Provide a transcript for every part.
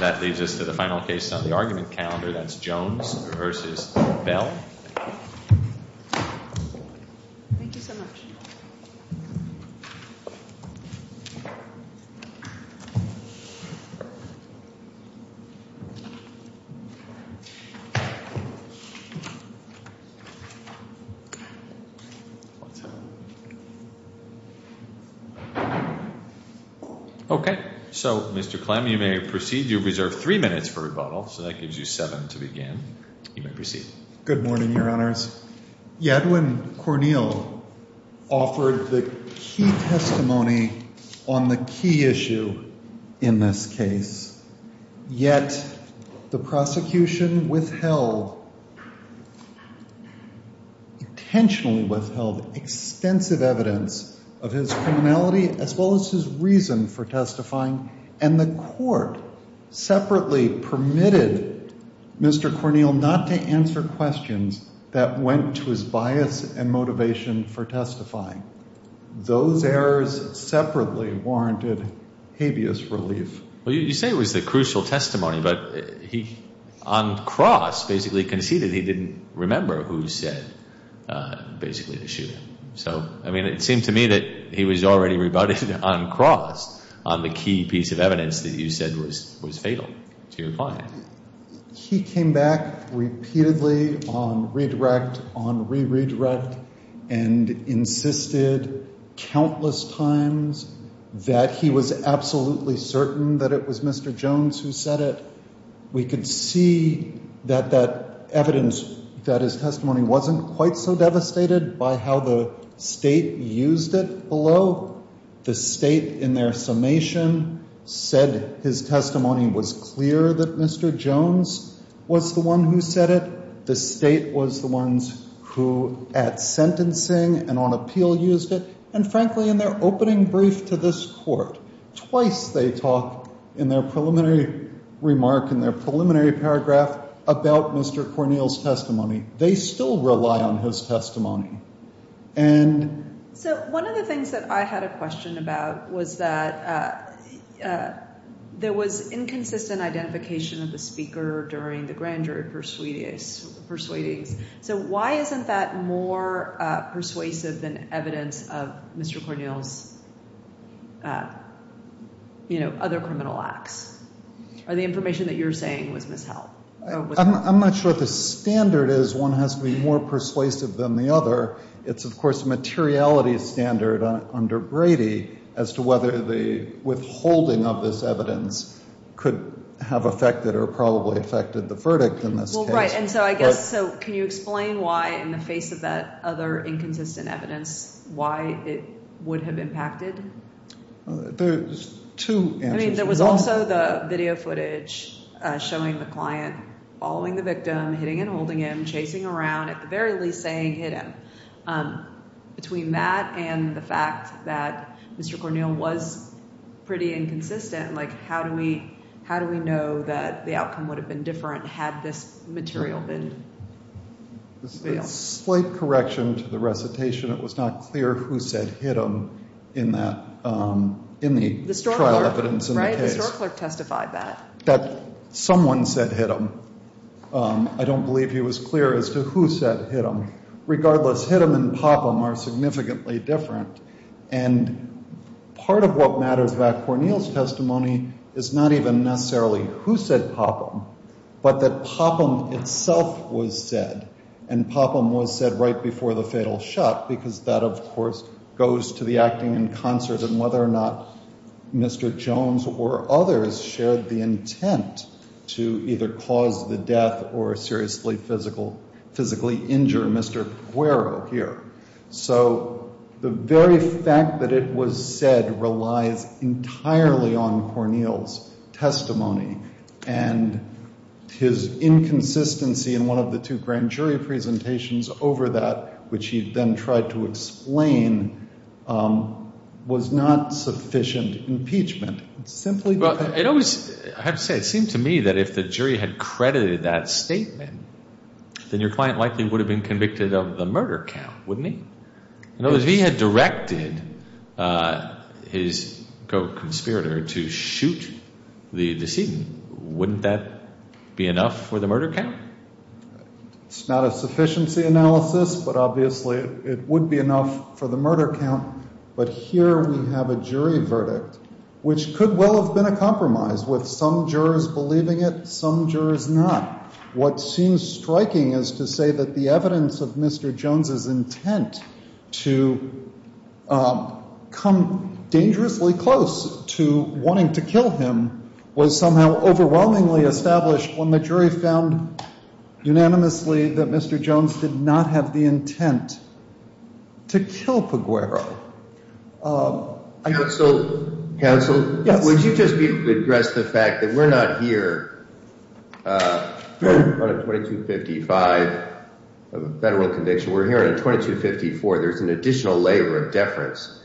That leads us to the final case on the argument calendar. That's Jones v. Bell. Thank you so much. Okay. So, Mr. Clem, you may proceed. You have reserved three minutes for rebuttal, so that gives you seven to begin. You may proceed. Good morning, Your Honors. Edwin Cornell offered the key testimony on the key issue in this case, yet the prosecution withheld, intentionally withheld, extensive evidence of his criminality as well as his reason for testifying, and the court separately permitted Mr. Cornell not to answer questions that went to his bias and motivation for testifying. Those errors separately warranted habeas relief. Well, you say it was the crucial testimony, but he, on cross, basically conceded he didn't remember who said basically the shooting. So, I mean, it seemed to me that he was already rebutted on cross on the key piece of evidence that you said was fatal to your client. He came back repeatedly on redirect, on re-redirect, and insisted countless times that he was absolutely certain that it was Mr. Jones who said it. The state was the ones who, at sentencing and on appeal, used it. And, frankly, in their opening brief to this court, twice they talk in their preliminary remark, in their preliminary paragraph, about Mr. Cornell's testimony. They still rely on his testimony. So, one of the things that I had a question about was that there was inconsistent identification of the speaker during the grand jury persuadings. So, why isn't that more persuasive than evidence of Mr. Cornell's, you know, other criminal acts? Or the information that you're saying was misheld? I'm not sure what the standard is. One has to be more persuasive than the other. It's, of course, a materiality standard under Brady as to whether the withholding of this evidence could have affected or probably affected the verdict in this case. Well, right. And so I guess, so can you explain why, in the face of that other inconsistent evidence, why it would have impacted? There's two answers. I mean, there was also the video footage showing the client following the victim, hitting and holding him, chasing around, at the very least saying, hit him. Between that and the fact that Mr. Cornell was pretty inconsistent, like, how do we know that the outcome would have been different had this material been revealed? A slight correction to the recitation. It was not clear who said hit him in that, in the trial evidence in the case. Right. The store clerk testified that. That someone said hit him. I don't believe he was clear as to who said hit him. Regardless, hit him and pop him are significantly different. And part of what matters about Cornell's testimony is not even necessarily who said pop him, but that pop him itself was said. And pop him was said right before the fatal shot, because that, of course, goes to the acting in concert and whether or not Mr. Jones or others shared the intent to either cause the death or seriously physically injure Mr. Guero here. So the very fact that it was said relies entirely on Cornell's testimony. And his inconsistency in one of the two grand jury presentations over that, which he then tried to explain, was not sufficient impeachment. I have to say, it seemed to me that if the jury had credited that statement, then your client likely would have been convicted of the murder count, wouldn't he? If he had directed his co-conspirator to shoot the decedent, wouldn't that be enough for the murder count? It's not a sufficiency analysis, but obviously it would be enough for the murder count. But here we have a jury verdict, which could well have been a compromise with some jurors believing it, some jurors not. What seems striking is to say that the evidence of Mr. Jones's intent to come dangerously close to wanting to kill him was somehow overwhelmingly established when the jury found unanimously that Mr. Jones did not have the intent to kill Peguero. Counsel, would you just address the fact that we're not here on a 2255 federal conviction, we're here on a 2254. There's an additional layer of deference.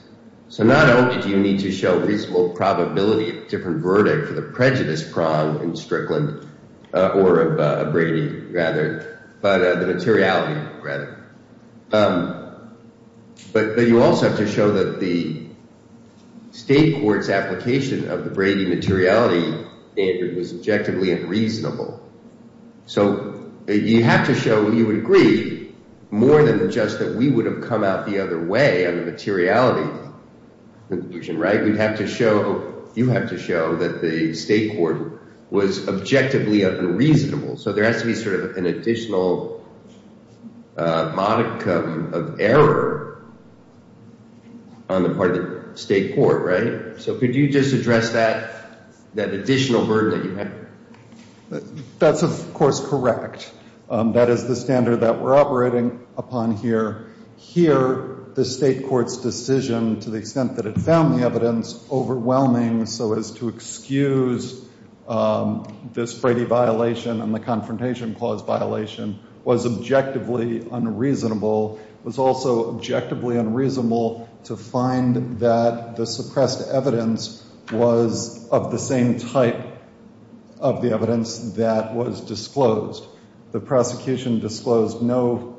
So not only do you need to show reasonable probability of a different verdict for the prejudice prong in Strickland, or of Brady rather, but the materiality rather. But you also have to show that the state court's application of the Brady materiality standard was objectively unreasonable. So you have to show you agree more than just that we would have come out the other way on the materiality conclusion, right? We'd have to show, you have to show that the state court was objectively unreasonable. So there has to be sort of an additional modicum of error on the part of the state court, right? So could you just address that additional burden that you have? That's, of course, correct. That is the standard that we're operating upon here. Here, the state court's decision to the extent that it found the evidence overwhelming so as to excuse this Brady violation and the confrontation clause violation was objectively unreasonable. It was also objectively unreasonable to find that the suppressed evidence was of the same type of the evidence that was disclosed. The prosecution disclosed no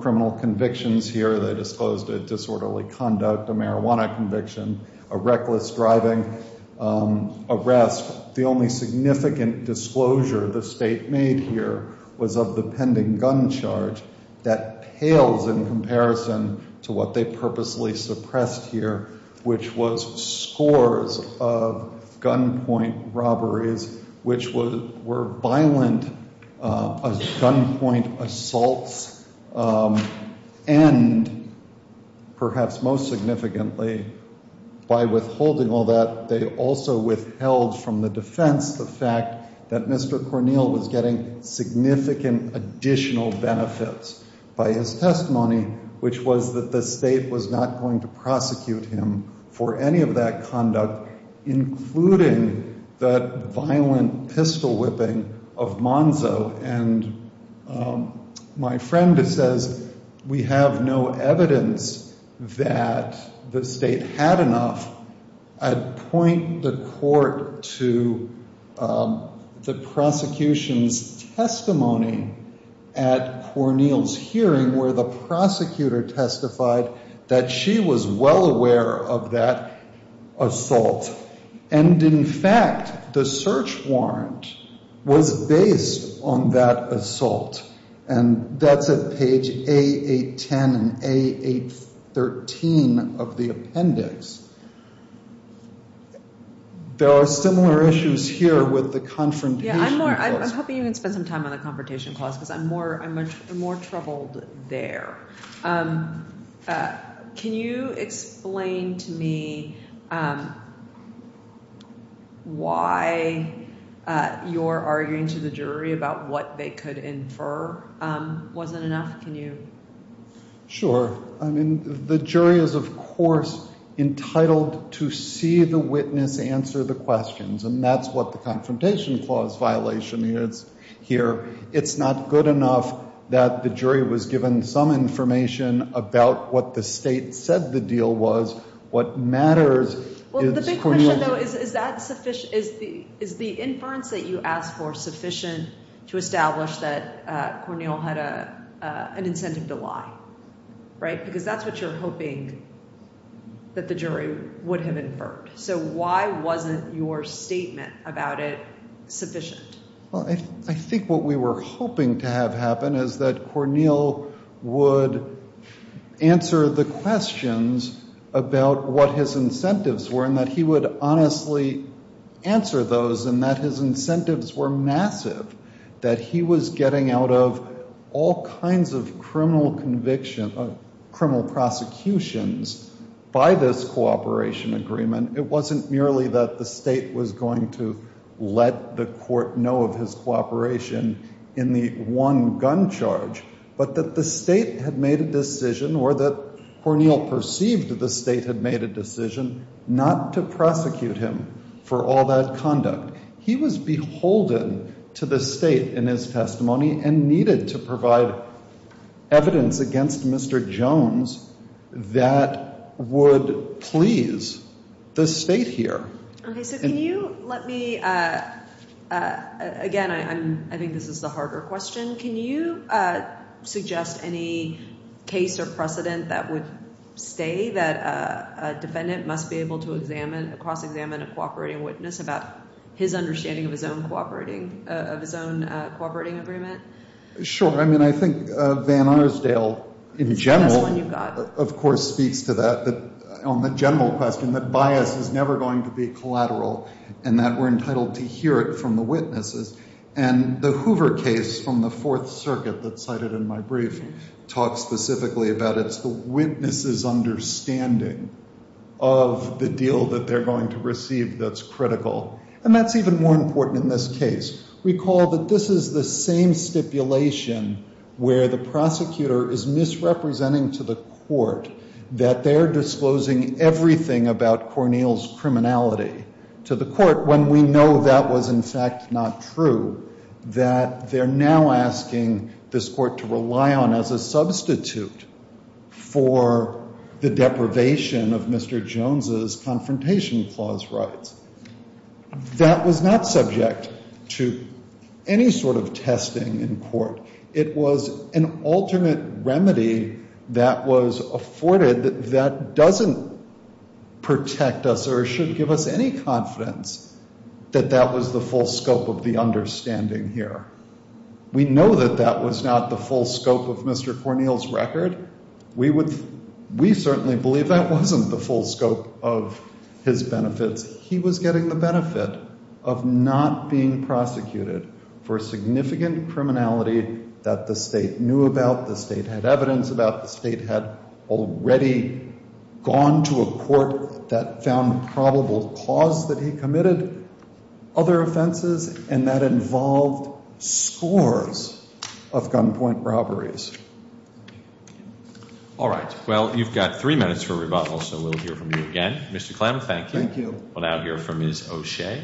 criminal convictions here. They disclosed a disorderly conduct, a marijuana conviction, a reckless driving, arrest. The only significant disclosure the state made here was of the pending gun charge that pales in comparison to what they purposely suppressed here, which was scores of gunpoint robberies, which were violent gunpoint assaults. And perhaps most significantly, by withholding all that, they also withheld from the defense the fact that Mr. Cornell was getting significant additional benefits by his testimony, which was that the state was not going to prosecute him for any of that conduct, including that violent pistol whipping of Monzo. And my friend says we have no evidence that the state had enough. I'd point the court to the prosecution's testimony at Cornell's hearing where the prosecutor testified that she was well aware of that assault. And, in fact, the search warrant was based on that assault. And that's at page A810 and A813 of the appendix. There are similar issues here with the confrontation clause. Yeah, I'm hoping you can spend some time on the confrontation clause because I'm more troubled there. Can you explain to me why your arguing to the jury about what they could infer wasn't enough? Can you? Sure. I mean, the jury is, of course, entitled to see the witness answer the questions. And that's what the confrontation clause violation is here. It's not good enough that the jury was given some information about what the state said the deal was. What matters is Cornell's— Well, the big question, though, is that sufficient—is the inference that you asked for sufficient to establish that Cornell had an incentive to lie? Right? Because that's what you're hoping that the jury would have inferred. So why wasn't your statement about it sufficient? Well, I think what we were hoping to have happen is that Cornell would answer the questions about what his incentives were and that he would honestly answer those and that his incentives were massive, that he was getting out of all kinds of criminal prosecutions by this cooperation agreement. And it wasn't merely that the state was going to let the court know of his cooperation in the one gun charge, but that the state had made a decision or that Cornell perceived the state had made a decision not to prosecute him for all that conduct. He was beholden to the state in his testimony and needed to provide evidence against Mr. Jones that would please the state here. Okay. So can you let me—again, I think this is the harder question. Can you suggest any case or precedent that would say that a defendant must be able to examine, cross-examine a cooperating witness about his understanding of his own cooperating—of his own cooperating agreement? Sure. I mean, I think Van Arsdale in general, of course, speaks to that, on the general question, that bias is never going to be collateral and that we're entitled to hear it from the witnesses. And the Hoover case from the Fourth Circuit that's cited in my brief talks specifically about it. It's the witness's understanding of the deal that they're going to receive that's critical. And that's even more important in this case. Recall that this is the same stipulation where the prosecutor is misrepresenting to the court that they're disclosing everything about Cornell's criminality to the court when we know that was, in fact, not true. That they're now asking this court to rely on as a substitute for the deprivation of Mr. Jones's Confrontation Clause rights. That was not subject to any sort of testing in court. It was an alternate remedy that was afforded that doesn't protect us or shouldn't give us any confidence that that was the full scope of the understanding here. We know that that was not the full scope of Mr. Cornell's record. We would—we certainly believe that wasn't the full scope of his benefits. He was getting the benefit of not being prosecuted for significant criminality that the state knew about, the state had evidence about, the state had already gone to a court that found probable cause that he committed other offenses, and that involved scores of gunpoint robberies. All right. Well, you've got three minutes for rebuttal, so we'll hear from you again. Mr. Clem, thank you. Thank you. We'll now hear from Ms. O'Shea.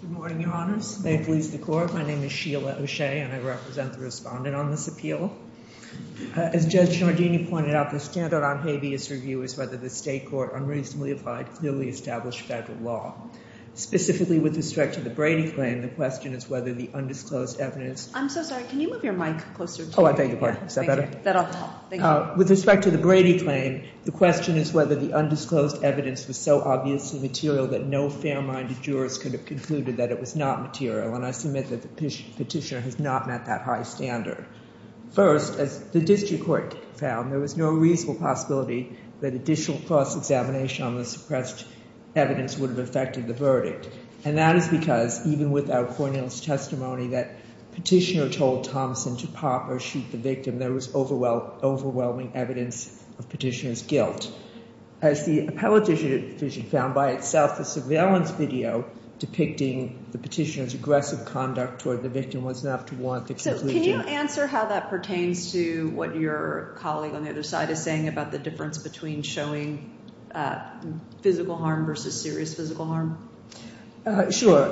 Good morning, Your Honors. May it please the Court, my name is Sheila O'Shea, and I represent the respondent on this appeal. As Judge Giardini pointed out, the standard on habeas review is whether the state court unreasonably applied clearly established federal law. Specifically with respect to the Brady claim, the question is whether the undisclosed evidence— I'm so sorry. Can you move your mic closer to me? Oh, I beg your pardon. Is that better? That'll help. With respect to the Brady claim, the question is whether the undisclosed evidence was so obviously material that no fair-minded jurist could have concluded that it was not material, and I submit that the petitioner has not met that high standard. First, as the district court found, there was no reasonable possibility that additional cross-examination on the suppressed evidence would have affected the verdict, and that is because even without Cornell's testimony that petitioner told Thomson to pop or shoot the victim, there was overwhelming evidence of petitioner's guilt. As the appellate division found by itself, the surveillance video depicting the petitioner's aggressive conduct toward the victim was enough to warrant the conclusion— So can you answer how that pertains to what your colleague on the other side is saying about the difference between showing physical harm versus serious physical harm? Sure.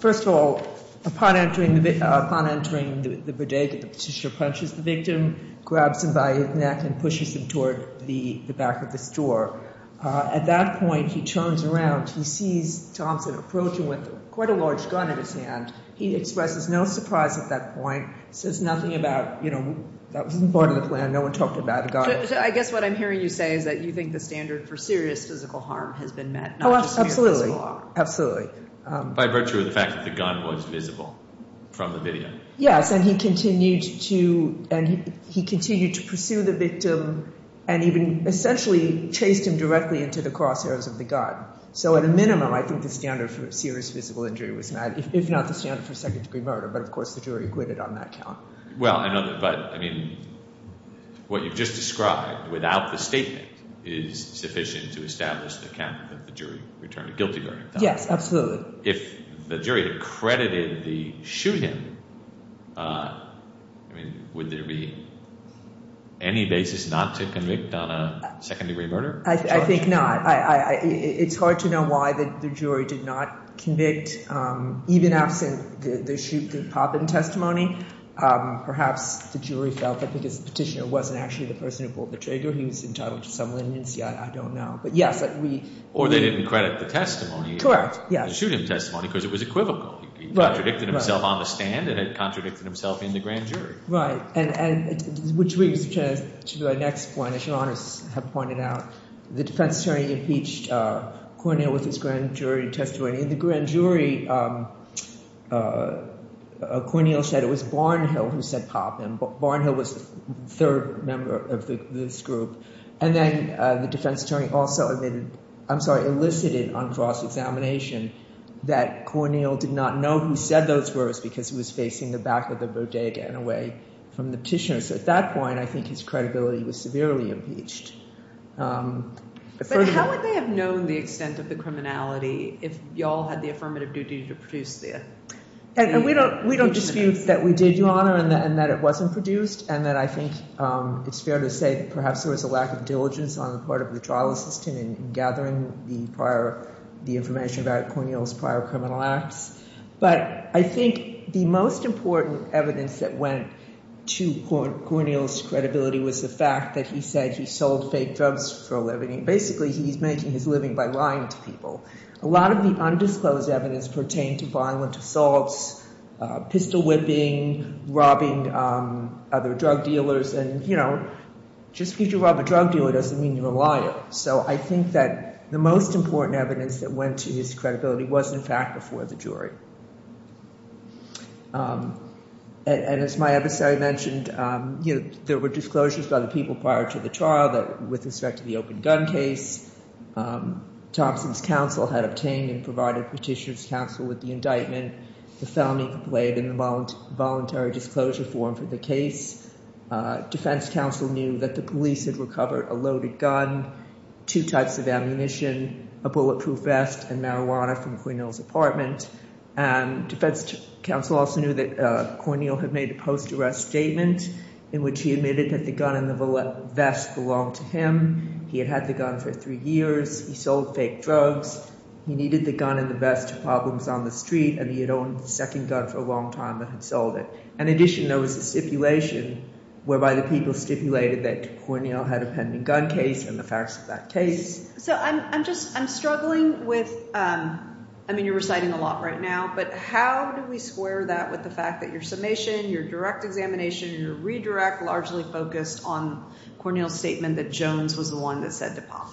First of all, upon entering the bodega, the petitioner punches the victim, grabs him by his neck, and pushes him toward the back of this door. At that point, he turns around. He sees Thomson approaching with quite a large gun in his hand. He expresses no surprise at that point, says nothing about, you know, that wasn't part of the plan. No one talked about a gun. So I guess what I'm hearing you say is that you think the standard for serious physical harm has been met, not just physical harm. Oh, absolutely. Absolutely. By virtue of the fact that the gun was visible from the video. Yes, and he continued to pursue the victim and even essentially chased him directly into the crosshairs of the gun. So at a minimum, I think the standard for serious physical injury was met, if not the standard for second-degree murder. But, of course, the jury acquitted on that count. Well, I know, but, I mean, what you've just described, without the statement, is sufficient to establish the count that the jury returned a guilty verdict. Yes, absolutely. If the jury accredited the shoot-in, I mean, would there be any basis not to convict on a second-degree murder? I think not. It's hard to know why the jury did not convict, even absent the pop-in testimony. Perhaps the jury felt that because the petitioner wasn't actually the person who pulled the trigger, he was entitled to some leniency. I don't know. Or they didn't credit the testimony. Correct. The shoot-in testimony, because it was equivocal. He contradicted himself on the stand and had contradicted himself in the grand jury. Right. Which brings us to our next point, as your Honor has pointed out. The defense attorney impeached Cornell with his grand jury testimony. In the grand jury, Cornell said it was Barnhill who said pop-in. Barnhill was the third member of this group. And then the defense attorney also admitted, I'm sorry, elicited on cross-examination, that Cornell did not know who said those words because he was facing the back of the bodega and away from the petitioner. So at that point, I think his credibility was severely impeached. But how would they have known the extent of the criminality if y'all had the affirmative duty to produce it? And we don't dispute that we did, your Honor, and that it wasn't produced, and that I think it's fair to say that perhaps there was a lack of diligence on the part of the trial assistant in gathering the information about Cornell's prior criminal acts. But I think the most important evidence that went to Cornell's credibility was the fact that he said he sold fake drugs for a living. Basically, he's making his living by lying to people. A lot of the undisclosed evidence pertained to violent assaults, pistol-whipping, robbing other drug dealers, and, you know, just because you rob a drug dealer doesn't mean you're a liar. So I think that the most important evidence that went to his credibility was, in fact, before the jury. And as my adversary mentioned, you know, there were disclosures by the people prior to the trial with respect to the open gun case. Thompson's counsel had obtained and provided Petitioner's counsel with the indictment. The felony complained in the voluntary disclosure form for the case. Defense counsel knew that the police had recovered a loaded gun, two types of ammunition, a bulletproof vest, and marijuana from Cornell's apartment. And defense counsel also knew that Cornell had made a post-arrest statement in which he admitted that the gun and the vest belonged to him. He had had the gun for three years. He sold fake drugs. He needed the gun and the vest to problems on the street, and he had owned the second gun for a long time and had sold it. In addition, there was a stipulation whereby the people stipulated that Cornell had a pending gun case and the facts of that case. So I'm just struggling with, I mean, you're reciting a lot right now, but how do we square that with the fact that your summation, your direct examination, and your redirect largely focused on Cornell's statement that Jones was the one that said the pop?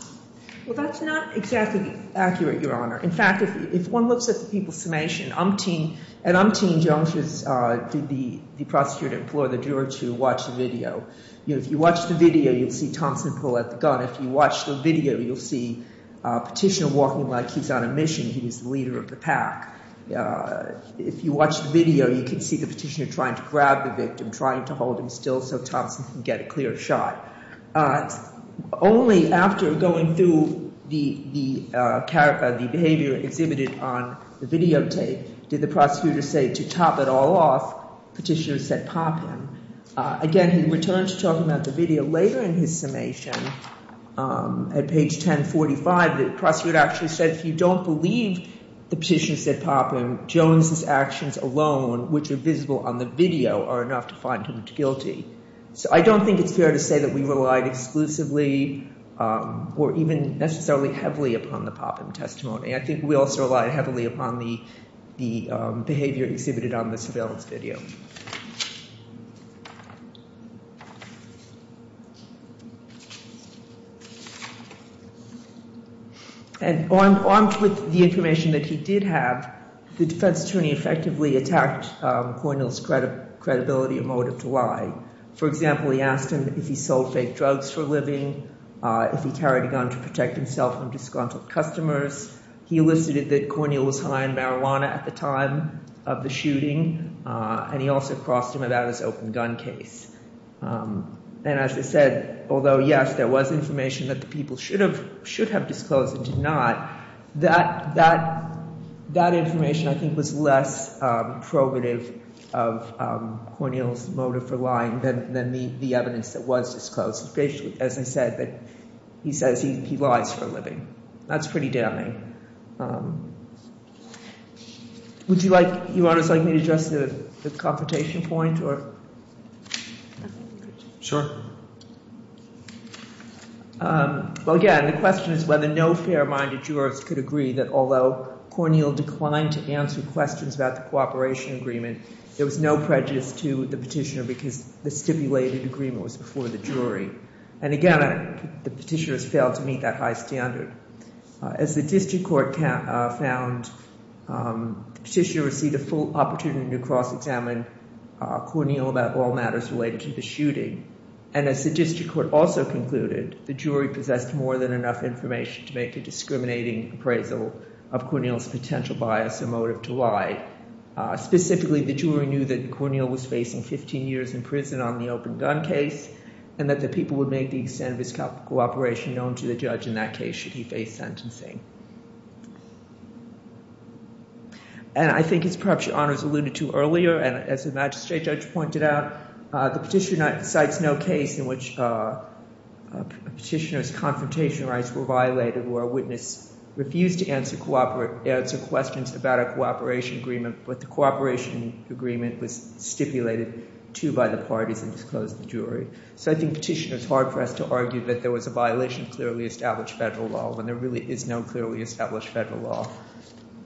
Well, that's not exactly accurate, Your Honor. In fact, if one looks at the people's summation, umpteen, and umpteen Joneses did the prosecutor to implore the juror to watch the video. If you watch the video, you'll see Thompson pull out the gun. If you watch the video, you'll see a petitioner walking like he's on a mission. He's the leader of the pack. If you watch the video, you can see the petitioner trying to grab the victim, trying to hold him still so Thompson can get a clear shot. Only after going through the character, the behavior exhibited on the videotape did the prosecutor say to top it all off, petitioner said pop him. Again, he returned to talk about the video later in his summation at page 1045. The prosecutor actually said if you don't believe the petitioner said pop him, Jones's actions alone, which are visible on the video, are enough to find him guilty. So I don't think it's fair to say that we relied exclusively or even necessarily heavily upon the pop him testimony. I think we also relied heavily upon the behavior exhibited on the surveillance video. And armed with the information that he did have, the defense attorney effectively attacked Cornell's credibility and motive to lie. For example, he asked him if he sold fake drugs for a living, if he carried a gun to protect himself from disgruntled customers. He elicited that Cornell was high on marijuana at the time of the shooting, and he also crossed him about his open gun case. And as I said, although yes, there was information that the people should have disclosed and did not, that information I think was less probative of Cornell's motive for lying than the evidence that was disclosed. As I said, he says he lies for a living. That's pretty damning. Would you, Your Honor, like me to address the confrontation point? Sure. Well, again, the question is whether no fair-minded jurist could agree that although Cornell declined to answer questions about the cooperation agreement, there was no prejudice to the petitioner because the stipulated agreement was before the jury. And again, the petitioner has failed to meet that high standard. As the district court found, the petitioner received a full opportunity to cross-examine Cornell about all matters related to the shooting. And as the district court also concluded, the jury possessed more than enough information to make a discriminating appraisal of Cornell's potential bias or motive to lie. Specifically, the jury knew that Cornell was facing 15 years in prison on the open gun case and that the people would make the extent of his cooperation known to the judge in that case should he face sentencing. And I think as perhaps Your Honor has alluded to earlier, and as the magistrate judge pointed out, the petitioner cites no case in which a petitioner's confrontation rights were violated where a witness refused to answer questions about a cooperation agreement but the cooperation agreement was stipulated to by the parties and disclosed to the jury. So I think the petitioner is hard-pressed to argue that there was a violation of clearly established federal law when there really is no clearly established federal law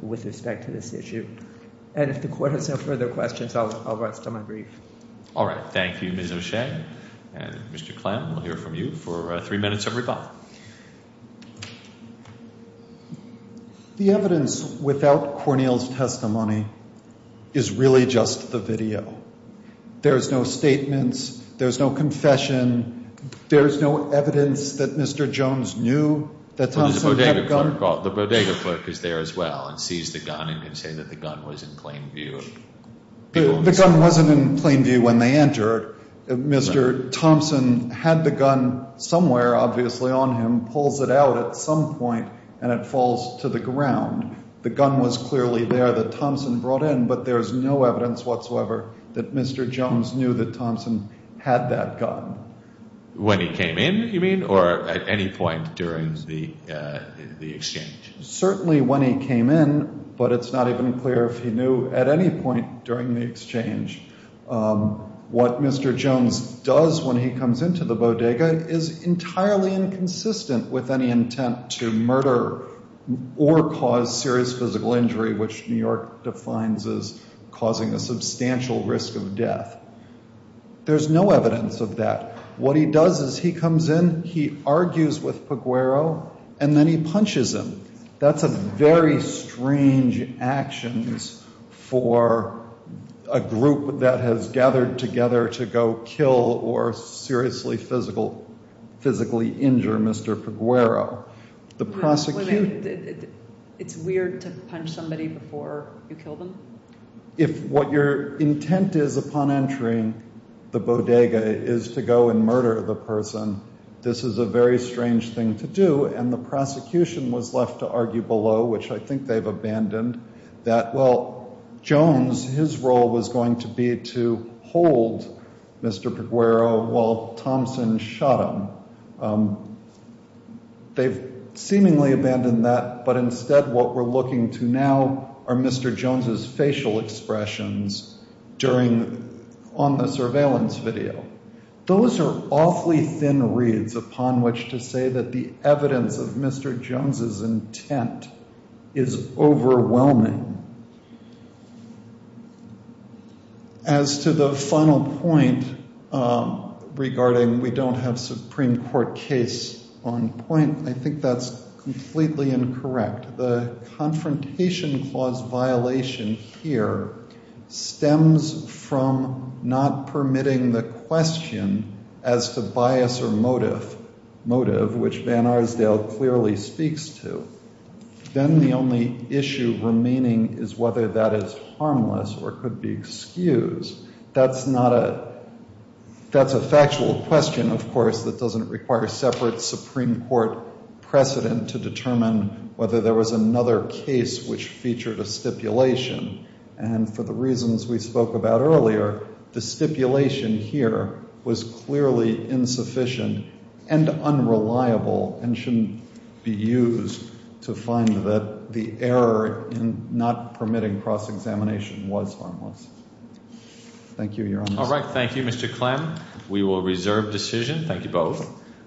with respect to this issue. And if the court has no further questions, I'll rest on my brief. All right. Thank you, Ms. O'Shea. And Mr. Klem, we'll hear from you for three minutes of rebuttal. The evidence without Cornell's testimony is really just the video. There's no statements. There's no confession. There's no evidence that Mr. Jones knew that Thompson had a gun. The bodega clerk is there as well and sees the gun and can say that the gun was in plain view. The gun wasn't in plain view when they entered. Mr. Thompson had the gun somewhere obviously on him, pulls it out at some point, and it falls to the ground. The gun was clearly there that Thompson brought in, but there's no evidence whatsoever that Mr. Jones knew that Thompson had that gun. When he came in, you mean, or at any point during the exchange? Certainly when he came in, but it's not even clear if he knew at any point during the exchange. What Mr. Jones does when he comes into the bodega is entirely inconsistent with any intent to murder or cause serious physical injury, which New York defines as causing a substantial risk of death. There's no evidence of that. What he does is he comes in, he argues with Peguero, and then he punches him. That's a very strange action for a group that has gathered together to go kill or seriously physically injure Mr. Peguero. It's weird to punch somebody before you kill them? If what your intent is upon entering the bodega is to go and murder the person, this is a very strange thing to do, and the prosecution was left to argue below, which I think they've abandoned, that, well, Jones, his role was going to be to hold Mr. Peguero while Thompson shot him. They've seemingly abandoned that, but instead what we're looking to now are Mr. Jones' facial expressions on the surveillance video. Those are awfully thin reeds upon which to say that the evidence of Mr. Jones' intent is overwhelming. As to the final point regarding we don't have Supreme Court case on point, I think that's completely incorrect. The confrontation clause violation here stems from not permitting the question as to bias or motive, which Van Arsdale clearly speaks to. Then the only issue remaining is whether that is harmless or could be excused. That's a factual question, of course, that doesn't require separate Supreme Court precedent to determine whether there was another case which featured a stipulation, and for the reasons we spoke about earlier, the stipulation here was clearly insufficient and unreliable and shouldn't be used to find that the error in not permitting cross-examination was harmless. Thank you, Your Honor. All right, thank you, Mr. Clem. We will reserve decision. Thank you both.